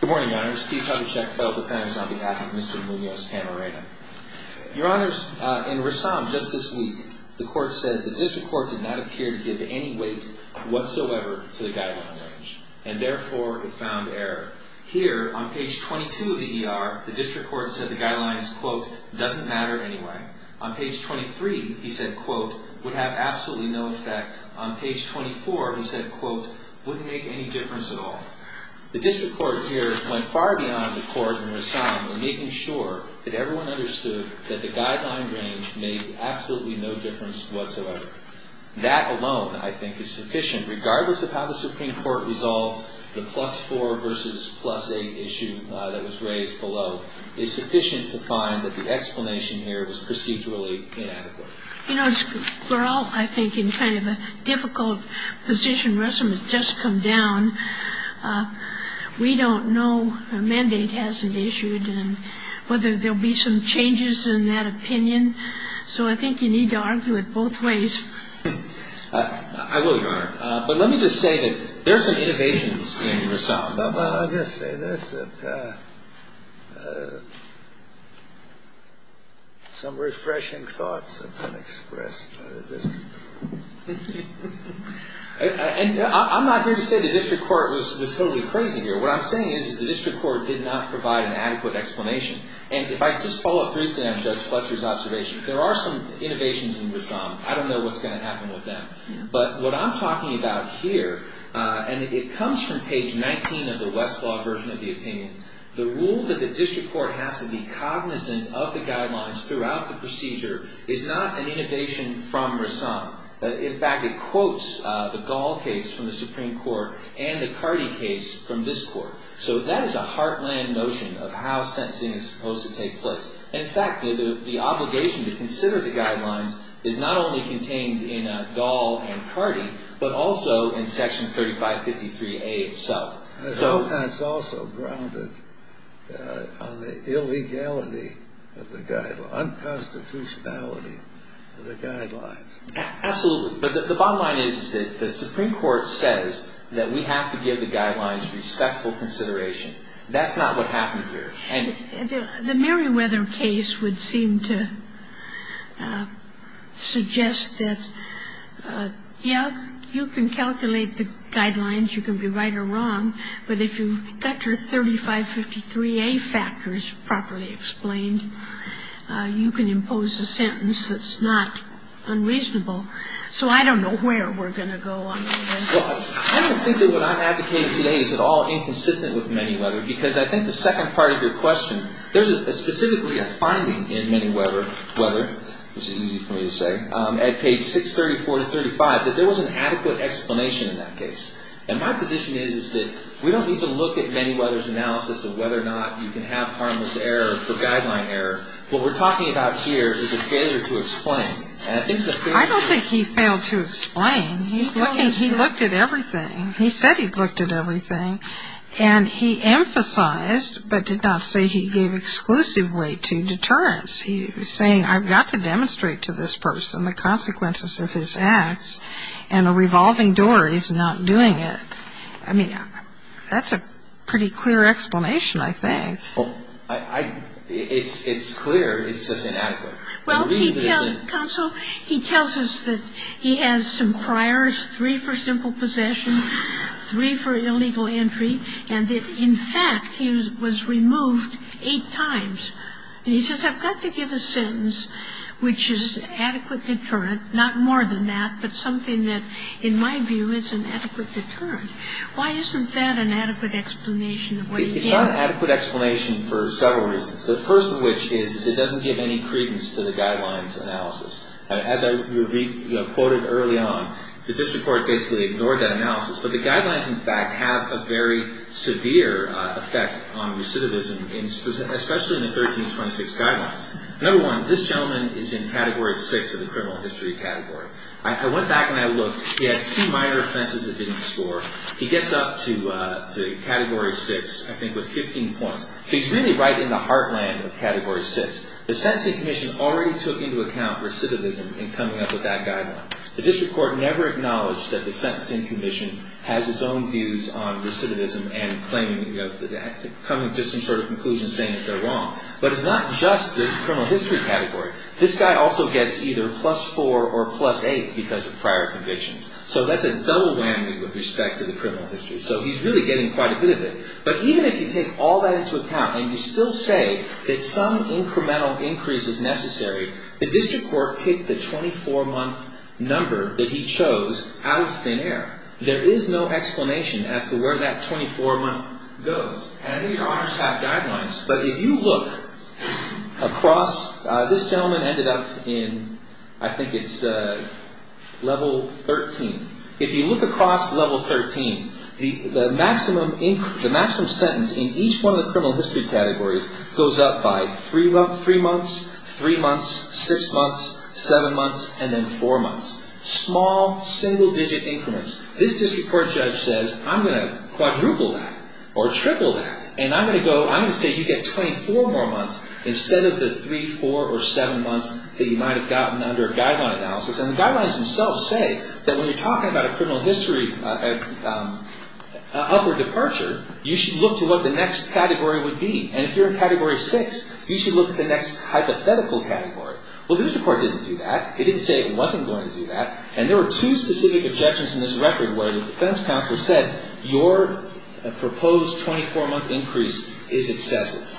Good morning, Your Honor. Steve Kovachek, federal defense, on behalf of Mr. Munoz-Camarena. Your Honor, in Rassam just this week, the court said the district court did not appear to give any weight whatsoever to the guideline range, and therefore it found error. Here, on page 22 of the ER, the district court said the guidelines, quote, doesn't matter anyway. On page 23, he said, quote, would have absolutely no effect. On page 24, he said, quote, wouldn't make any difference at all. The district court here went far beyond the court in Rassam in making sure that everyone understood that the guideline range made absolutely no difference whatsoever. That alone, I think, is sufficient, regardless of how the Supreme Court resolves the plus-4 versus plus-8 issue that was raised below. It's sufficient to find that the explanation here was procedurally inadequate. You know, we're all, I think, in kind of a difficult position. Rassam has just come down. We don't know a mandate hasn't issued and whether there will be some changes in that opinion. So I think you need to argue it both ways. I will, Your Honor. But let me just say that there are some innovations in Rassam. Well, I'll just say this, that some refreshing thoughts have been expressed by the district court. And I'm not here to say the district court was totally crazy here. What I'm saying is the district court did not provide an adequate explanation. And if I just follow up briefly on Judge Fletcher's observation, there are some innovations in Rassam. I don't know what's going to happen with them. But what I'm talking about here, and it comes from page 19 of the Westlaw version of the opinion, the rule that the district court has to be cognizant of the guidelines throughout the procedure is not an innovation from Rassam. In fact, it quotes the Gall case from the Supreme Court and the Cardi case from this court. So that is a heartland notion of how sentencing is supposed to take place. In fact, the obligation to consider the guidelines is not only contained in Dahl and Cardi, but also in Section 3553A itself. And that's also grounded on the illegality of the guidelines, unconstitutionality of the guidelines. Absolutely. But the bottom line is that the Supreme Court says that we have to give the guidelines respectful consideration. That's not what happened here. The Merriweather case would seem to suggest that, yes, you can calculate the guidelines, you can be right or wrong, but if you factor 3553A factors properly explained, you can impose a sentence that's not unreasonable. So I don't know where we're going to go on this. Well, I don't think that what I'm advocating today is at all inconsistent with Merriweather, because I think the second part of your question, there's specifically a finding in Merriweather, which is easy for me to say, at page 634-35, that there was an adequate explanation in that case. And my position is that we don't need to look at Merriweather's analysis of whether or not you can have harmless error for guideline error. What we're talking about here is a failure to explain. I don't think he failed to explain. He looked at everything. He said he looked at everything. And he emphasized, but did not say he gave exclusive weight to deterrence. He was saying, I've got to demonstrate to this person the consequences of his acts. And a revolving door is not doing it. I mean, that's a pretty clear explanation, I think. It's clear it's just inadequate. Well, counsel, he tells us that he has some priors, three for simple possession, three for illegal entry, and that, in fact, he was removed eight times. And he says, I've got to give a sentence which is adequate deterrent, not more than that, but something that, in my view, is an adequate deterrent. Why isn't that an adequate explanation of what he did? It's not an adequate explanation for several reasons, the first of which is it doesn't give any credence to the guidelines analysis. As I quoted early on, the district court basically ignored that analysis. But the guidelines, in fact, have a very severe effect on recidivism, especially in the 1326 guidelines. Another one, this gentleman is in Category 6 of the criminal history category. I went back and I looked. He had two minor offenses that didn't score. He gets up to Category 6, I think, with 15 points. So he's really right in the heartland of Category 6. The Sentencing Commission already took into account recidivism in coming up with that guideline. The district court never acknowledged that the Sentencing Commission has its own views on recidivism and coming to some sort of conclusion saying that they're wrong. But it's not just the criminal history category. This guy also gets either plus 4 or plus 8 because of prior convictions. So that's a double whammy with respect to the criminal history. So he's really getting quite a bit of it. But even if you take all that into account and you still say that some incremental increase is necessary, the district court picked the 24-month number that he chose out of thin air. There is no explanation as to where that 24-month goes. And I know your honors have guidelines, but if you look across, this gentleman ended up in, I think it's Level 13. If you look across Level 13, the maximum sentence in each one of the criminal history categories goes up by three months, three months, six months, seven months, and then four months. Small, single-digit increments. This district court judge says, I'm going to quadruple that or triple that. And I'm going to say you get 24 more months instead of the three, four, or seven months that you might have gotten under a guideline analysis. And the guidelines themselves say that when you're talking about a criminal history upper departure, you should look to what the next category would be. And if you're in Category 6, you should look at the next hypothetical category. Well, the district court didn't do that. It didn't say it wasn't going to do that. And there were two specific objections in this record where the defense counsel said, your proposed 24-month increase is excessive.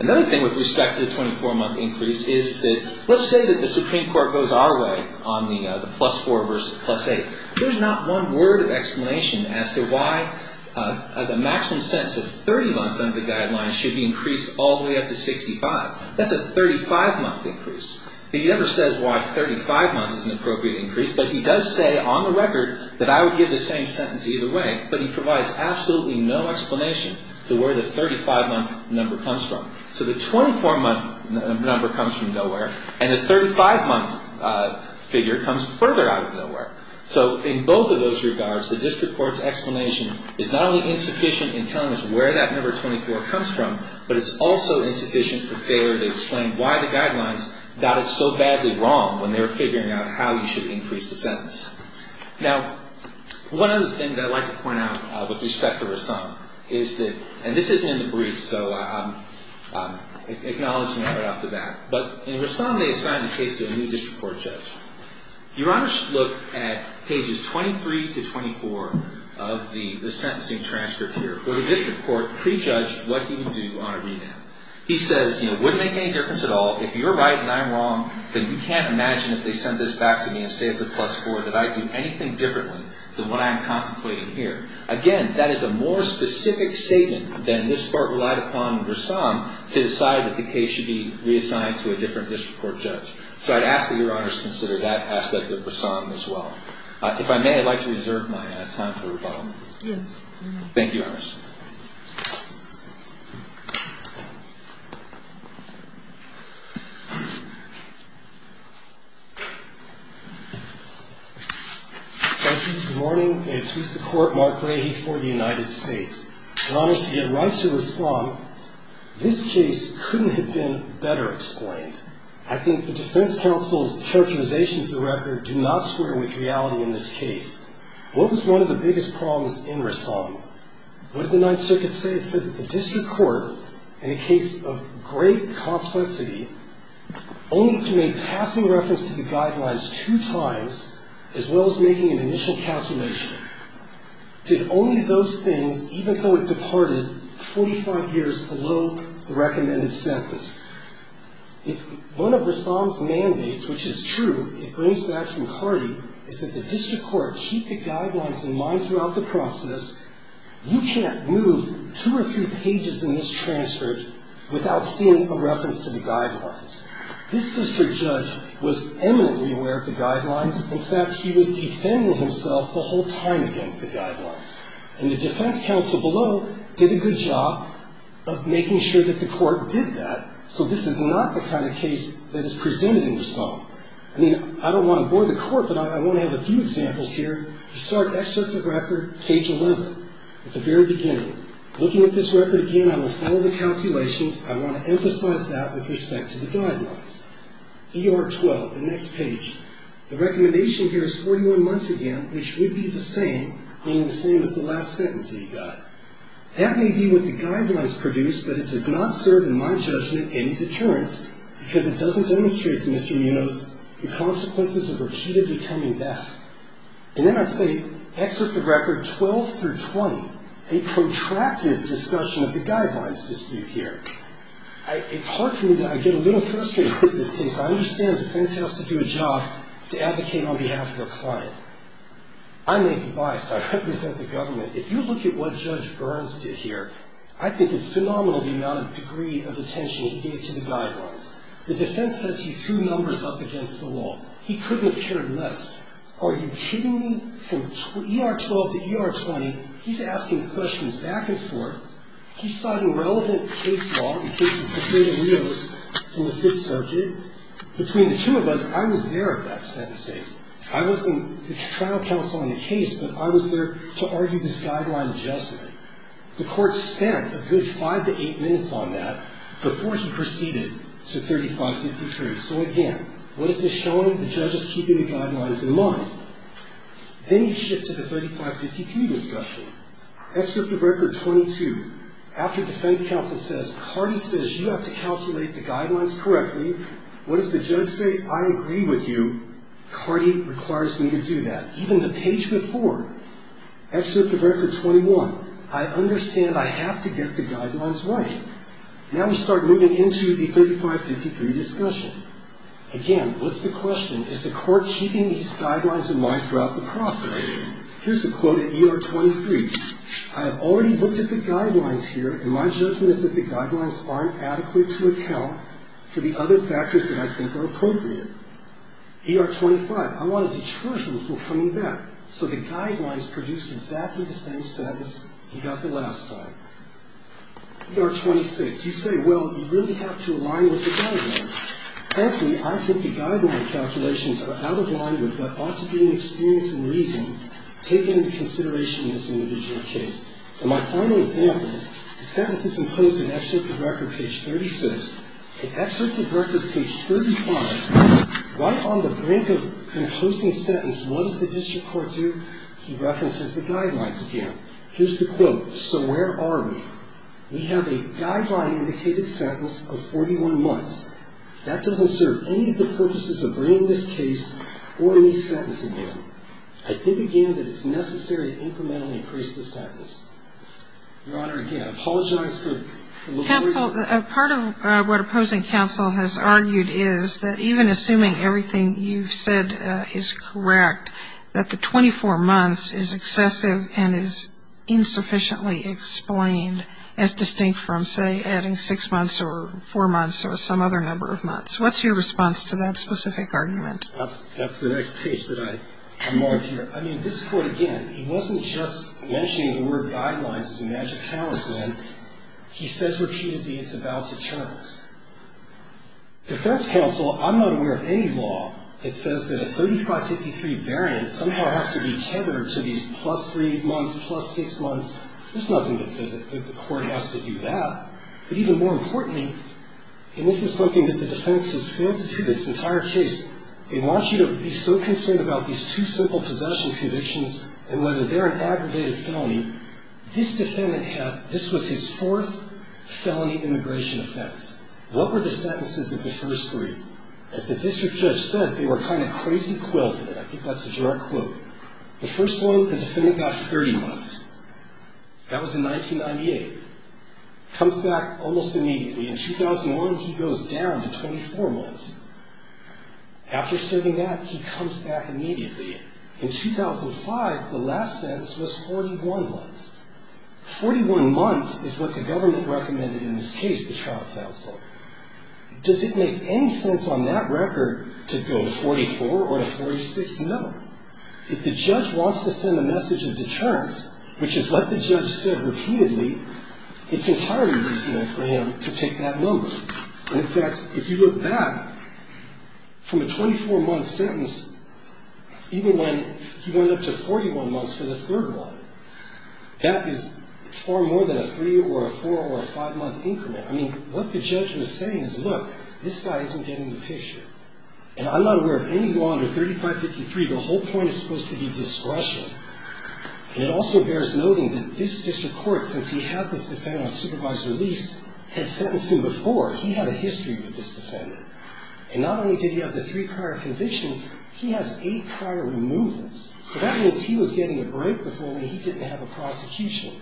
Another thing with respect to the 24-month increase is that let's say that the Supreme Court goes our way on the plus four versus plus eight. There's not one word of explanation as to why the maximum sentence of 30 months under the guidelines should be increased all the way up to 65. That's a 35-month increase. He never says why 35 months is an appropriate increase, but he does say on the record that I would give the same sentence either way. But he provides absolutely no explanation to where the 35-month number comes from. So the 24-month number comes from nowhere, and the 35-month figure comes further out of nowhere. So in both of those regards, the district court's explanation is not only insufficient in telling us where that number 24 comes from, but it's also insufficient for failure to explain why the guidelines got it so badly wrong when they were figuring out how you should increase the sentence. Now, one other thing that I'd like to point out with respect to Rassam is that, and this isn't in the brief, so I'm acknowledging it right off the bat, but in Rassam they assigned the case to a new district court judge. Your Honor should look at pages 23 to 24 of the sentencing transcript here, where the district court prejudged what he would do on a renown. He says, you know, it wouldn't make any difference at all. If you're right and I'm wrong, then you can't imagine if they sent this back to me and say it's a plus four that I'd do anything differently than what I'm contemplating here. Again, that is a more specific statement than this part relied upon in Rassam to decide that the case should be reassigned to a different district court judge. So I'd ask that Your Honors consider that aspect of Rassam as well. If I may, I'd like to reserve my time for rebuttal. Yes. Thank you, Your Honors. Thank you. Good morning. And please support Mark Leahy for the United States. Your Honors, to get right to Rassam, this case couldn't have been better explained. I think the defense counsel's characterizations of the record do not square with reality in this case. What was one of the biggest problems in Rassam? What did the Ninth Circuit say? It said that the district court, in a case of Rassam, of great complexity, only made passing reference to the guidelines two times, as well as making an initial calculation. Did only those things, even though it departed 45 years below the recommended sentence. If one of Rassam's mandates, which is true, it brings back from Cardi, is that the district court keep the guidelines in mind throughout the process, you can't move two or three pages in this transcript without seeing a reference to the guidelines. This district judge was eminently aware of the guidelines. In fact, he was defending himself the whole time against the guidelines. And the defense counsel below did a good job of making sure that the court did that, so this is not the kind of case that is presented in Rassam. I mean, I don't want to bore the court, but I want to have a few examples here. The start excerpt of record, page 11, at the very beginning. Looking at this record again, I will follow the calculations. I want to emphasize that with respect to the guidelines. ER 12, the next page. The recommendation here is 41 months again, which would be the same, meaning the same as the last sentence that he got. That may be what the guidelines produced, but it does not serve, in my judgment, any deterrence, because it doesn't demonstrate to Mr. Munoz the consequences of repeatedly coming back. And then I'd say, excerpt of record 12 through 20, a protracted discussion of the guidelines dispute here. It's hard for me to get a little frustrated with this case. I understand the defense has to do a job to advocate on behalf of the client. I'm Nathan Byst. I represent the government. If you look at what Judge Burns did here, I think it's phenomenal the amount of degree of attention he gave to the guidelines. The defense says he threw numbers up against the wall. He couldn't have cared less. Are you kidding me? From ER 12 to ER 20, he's asking questions back and forth. He's citing relevant case law, the case of Sepulveda Rios from the Fifth Circuit. Between the two of us, I was there at that sentencing. I wasn't the trial counsel in the case, but I was there to argue this guideline adjustment. The court spent a good five to eight minutes on that before he proceeded to 3553. So again, what is this showing? The judge is keeping the guidelines in mind. Then you shift to the 3553 discussion. Excerpt of Record 22, after defense counsel says, Cardi says you have to calculate the guidelines correctly, what does the judge say? I agree with you. Cardi requires me to do that. Even the page before, excerpt of Record 21, I understand I have to get the guidelines right. Now we start moving into the 3553 discussion. Again, what's the question? Is the court keeping these guidelines in mind throughout the process? Here's a quote at ER 23. I have already looked at the guidelines here, and my judgment is that the guidelines aren't adequate to account for the other factors that I think are appropriate. ER 25, I wanted to charge him for coming back, so the guidelines produce exactly the same sentence he got the last time. ER 26, you say, well, you really have to align with the guidelines. Frankly, I think the guideline calculations are out of line with what ought to be an experience and reason taken into consideration in this individual case. In my final example, the sentence is imposed in Excerpt of Record page 36. In Excerpt of Record page 35, right on the brink of imposing a sentence, what does the district court do? He references the guidelines again. Here's the quote. So where are we? We have a guideline-indicated sentence of 41 months. That doesn't serve any of the purposes of bringing this case or any sentence again. I think, again, that it's necessary to incrementally increase the sentence. Your Honor, again, I apologize for the lawyers. Counsel, part of what opposing counsel has argued is that even assuming everything you've said is correct, that the 24 months is excessive and is insufficiently explained as distinct from, say, adding six months or four months or some other number of months. What's your response to that specific argument? That's the next page that I marked here. I mean, this court, again, he wasn't just mentioning the word guidelines as a magic talisman. He says repeatedly it's about deterrence. Defense counsel, I'm not aware of any law that says that a 3553 variance somehow has to be tethered to these plus three months, plus six months. There's nothing that says that the court has to do that. But even more importantly, and this is something that the defense has failed to do this entire case, they want you to be so concerned about these two simple possession convictions and whether they're an aggravated felony. This defendant had this was his fourth felony immigration offense. What were the sentences of the first three? As the district judge said, they were kind of crazy quilted. I think that's a direct quote. The first one, the defendant got 30 months. That was in 1998. Comes back almost immediately. In 2001, he goes down to 24 months. After serving that, he comes back immediately. In 2005, the last sentence was 41 months. Forty-one months is what the government recommended in this case, the trial counsel. Does it make any sense on that record to go to 44 or to 46? No. If the judge wants to send a message of deterrence, which is what the judge said repeatedly, it's entirely reasonable for him to take that number. In fact, if you look back from a 24-month sentence, even when he went up to 41 months for the third one, that is far more than a three or a four or a five-month increment. I mean, what the judge was saying is, look, this guy isn't getting the picture. And I'm not aware of anyone under 3553, the whole point is supposed to be discretion. And it also bears noting that this district court, since he had this defendant on supervised release, had sentenced him before. He had a history with this defendant. And not only did he have the three prior convictions, he has eight prior removals. So that means he was getting a break before he didn't have a prosecution.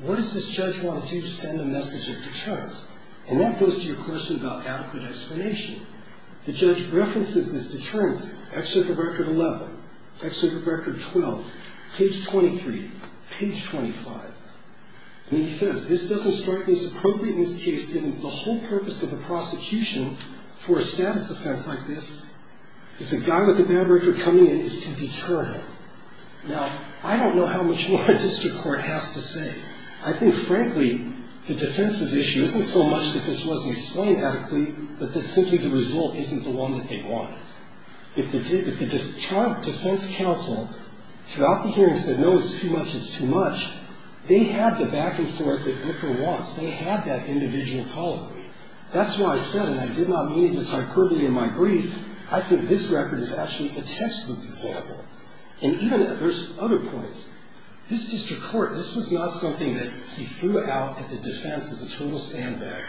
What does this judge want to do to send a message of deterrence? And that goes to your question about adequate explanation. The judge references this deterrence. Excerpt of record 11. Excerpt of record 12. Page 23. Page 25. And he says, this doesn't strike me as appropriate in this case, given the whole purpose of the prosecution for a status offense like this, is a guy with a bad record coming in is to deter him. Now, I don't know how much more a district court has to say. I think, frankly, the defense's issue isn't so much that this wasn't explained adequately, but that simply the result isn't the one that they wanted. If the defense counsel throughout the hearing said, no, it's too much, it's too much, they had the back and forth that Glicker wants. They had that individual call to me. That's why I said, and I did not mean it as hyperbole in my brief, I think this record is actually a textbook example. And even there's other points. This district court, this was not something that he threw out at the defense as a total sandbag.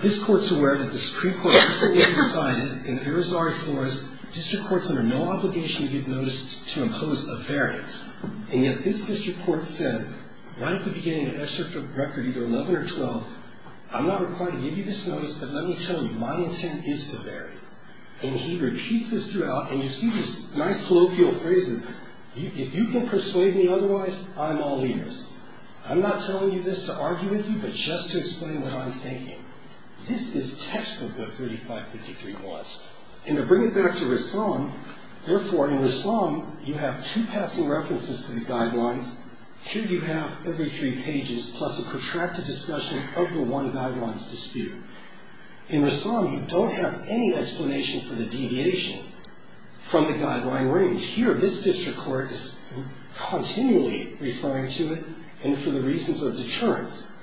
This court's aware that this pre-court decision was decided, and there is already for us district courts under no obligation to give notice to impose a variance. And yet this district court said, right at the beginning of the excerpt of record, either 11 or 12, I'm not required to give you this notice, but let me tell you, my intent is to vary. And he repeats this throughout, and you see these nice colloquial phrases. If you can persuade me otherwise, I'm all ears. I'm not telling you this to argue with you, but just to explain what I'm thinking. This is textbook, the 3553 quads. And to bring it back to Rassam, therefore, in Rassam, you have two passing references to the guidelines. Here you have every three pages plus a protracted discussion of the one guidelines dispute. In Rassam, you don't have any explanation for the deviation from the guideline range. Here, this district court is continually referring to it, and for the reasons of deterrence.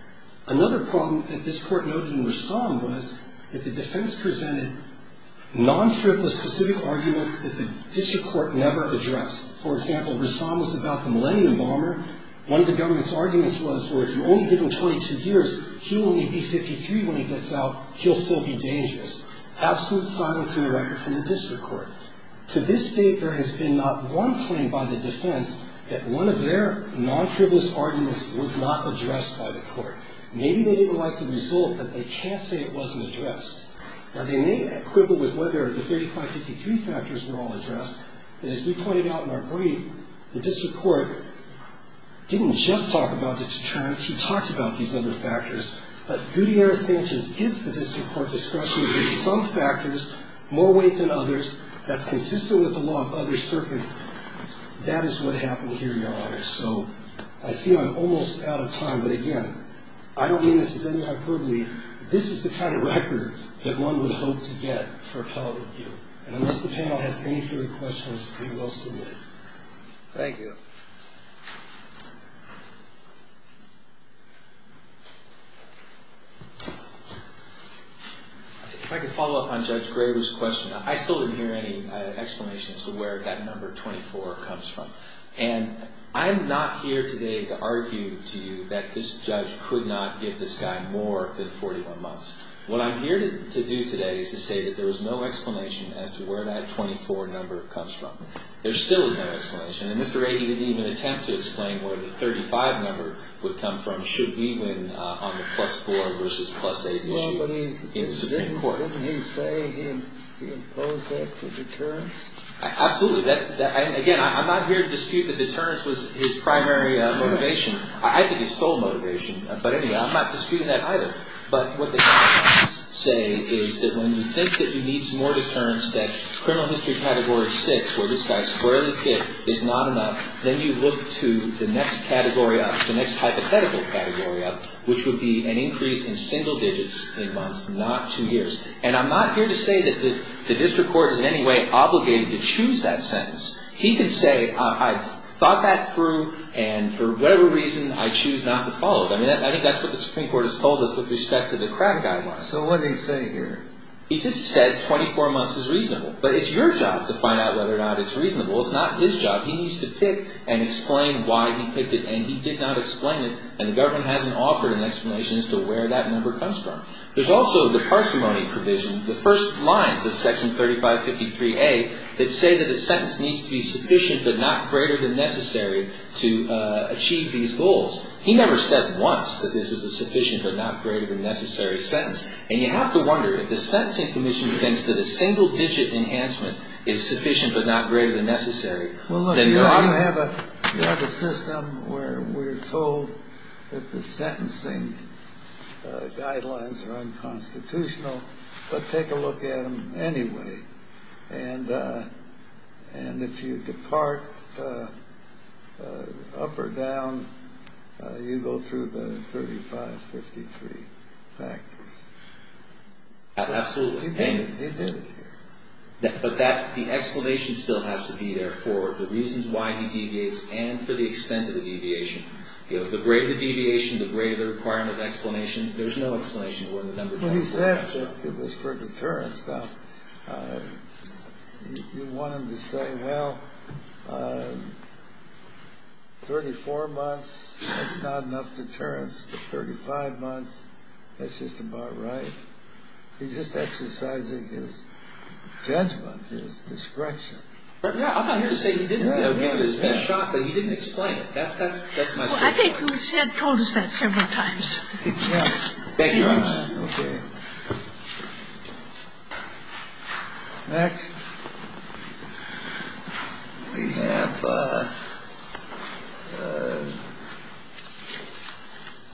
Another problem that this court noted in Rassam was that the defense presented non-frivolous specific arguments that the district court never addressed. For example, Rassam was about the Millennium Bomber. One of the government's arguments was, well, if you only give him 22 years, he'll only be 53 when he gets out. He'll still be dangerous. Absolute silence in the record from the district court. To this date, there has been not one claim by the defense that one of their non-frivolous arguments was not addressed by the court. Maybe they didn't like the result, but they can't say it wasn't addressed. Now, they may quibble with whether the 3553 factors were all addressed, but as we pointed out in our brief, the district court didn't just talk about deterrence. He talked about these other factors. But Gutierrez-Sanchez is the district court discretionary with some factors more weight than others. That's consistent with the law of other circuits. That is what happened here, Your Honor. So I see I'm almost out of time, but again, I don't mean this as any hyperbole. This is the kind of record that one would hope to get for appellate review. And unless the panel has any further questions, we will submit. Thank you. If I could follow up on Judge Graber's question. I still didn't hear any explanation as to where that number 24 comes from. And I'm not here today to argue to you that this judge could not give this guy more than 41 months. What I'm here to do today is to say that there is no explanation as to where that 24 number comes from. There still is no explanation. And Mr. Rady didn't even attempt to explain where the 35 number would come from should we win on the plus-4 versus plus-8 issue in Supreme Court. Didn't he say he imposed that for deterrence? Absolutely. Again, I'm not here to dispute that deterrence was his primary motivation. I think his sole motivation. But anyway, I'm not disputing that either. But what the commentators say is that when you think that you need some more deterrence, that criminal history category 6, where this guy squarely fit, is not enough, then you look to the next category up, the next hypothetical category up, which would be an increase in single digits in months, not two years. And I'm not here to say that the district court is in any way obligated to choose that sentence. He can say, I've thought that through, and for whatever reason, I choose not to follow it. I mean, I think that's what the Supreme Court has told us with respect to the crack guidelines. So what did he say here? He just said 24 months is reasonable. But it's your job to find out whether or not it's reasonable. It's not his job. He needs to pick and explain why he picked it, and he did not explain it, and the government hasn't offered an explanation as to where that number comes from. There's also the parsimony provision, the first lines of Section 3553A that say that the sentence needs to be sufficient but not greater than necessary to achieve these goals. He never said once that this was a sufficient but not greater than necessary sentence. And you have to wonder, if the Sentencing Commission thinks that a single-digit enhancement is sufficient but not greater than necessary, then there ought to be – Well, look, you have a system where we're told that the sentencing guidelines are unconstitutional, but take a look at them anyway. And if you depart up or down, you go through the 3553 factors. Absolutely. He did it here. But the explanation still has to be there for the reasons why he deviates and for the extent of the deviation. The greater the deviation, the greater the requirement of explanation. Well, he said that it was for deterrence. Now, you want him to say, well, 34 months, that's not enough deterrence. But 35 months, that's just about right. He's just exercising his judgment, his discretion. Yeah, I'm not here to say he didn't. He was being shot, but he didn't explain it. That's my statement. Well, I think you told us that several times. Thank you, Your Honor. Okay. Next, we have...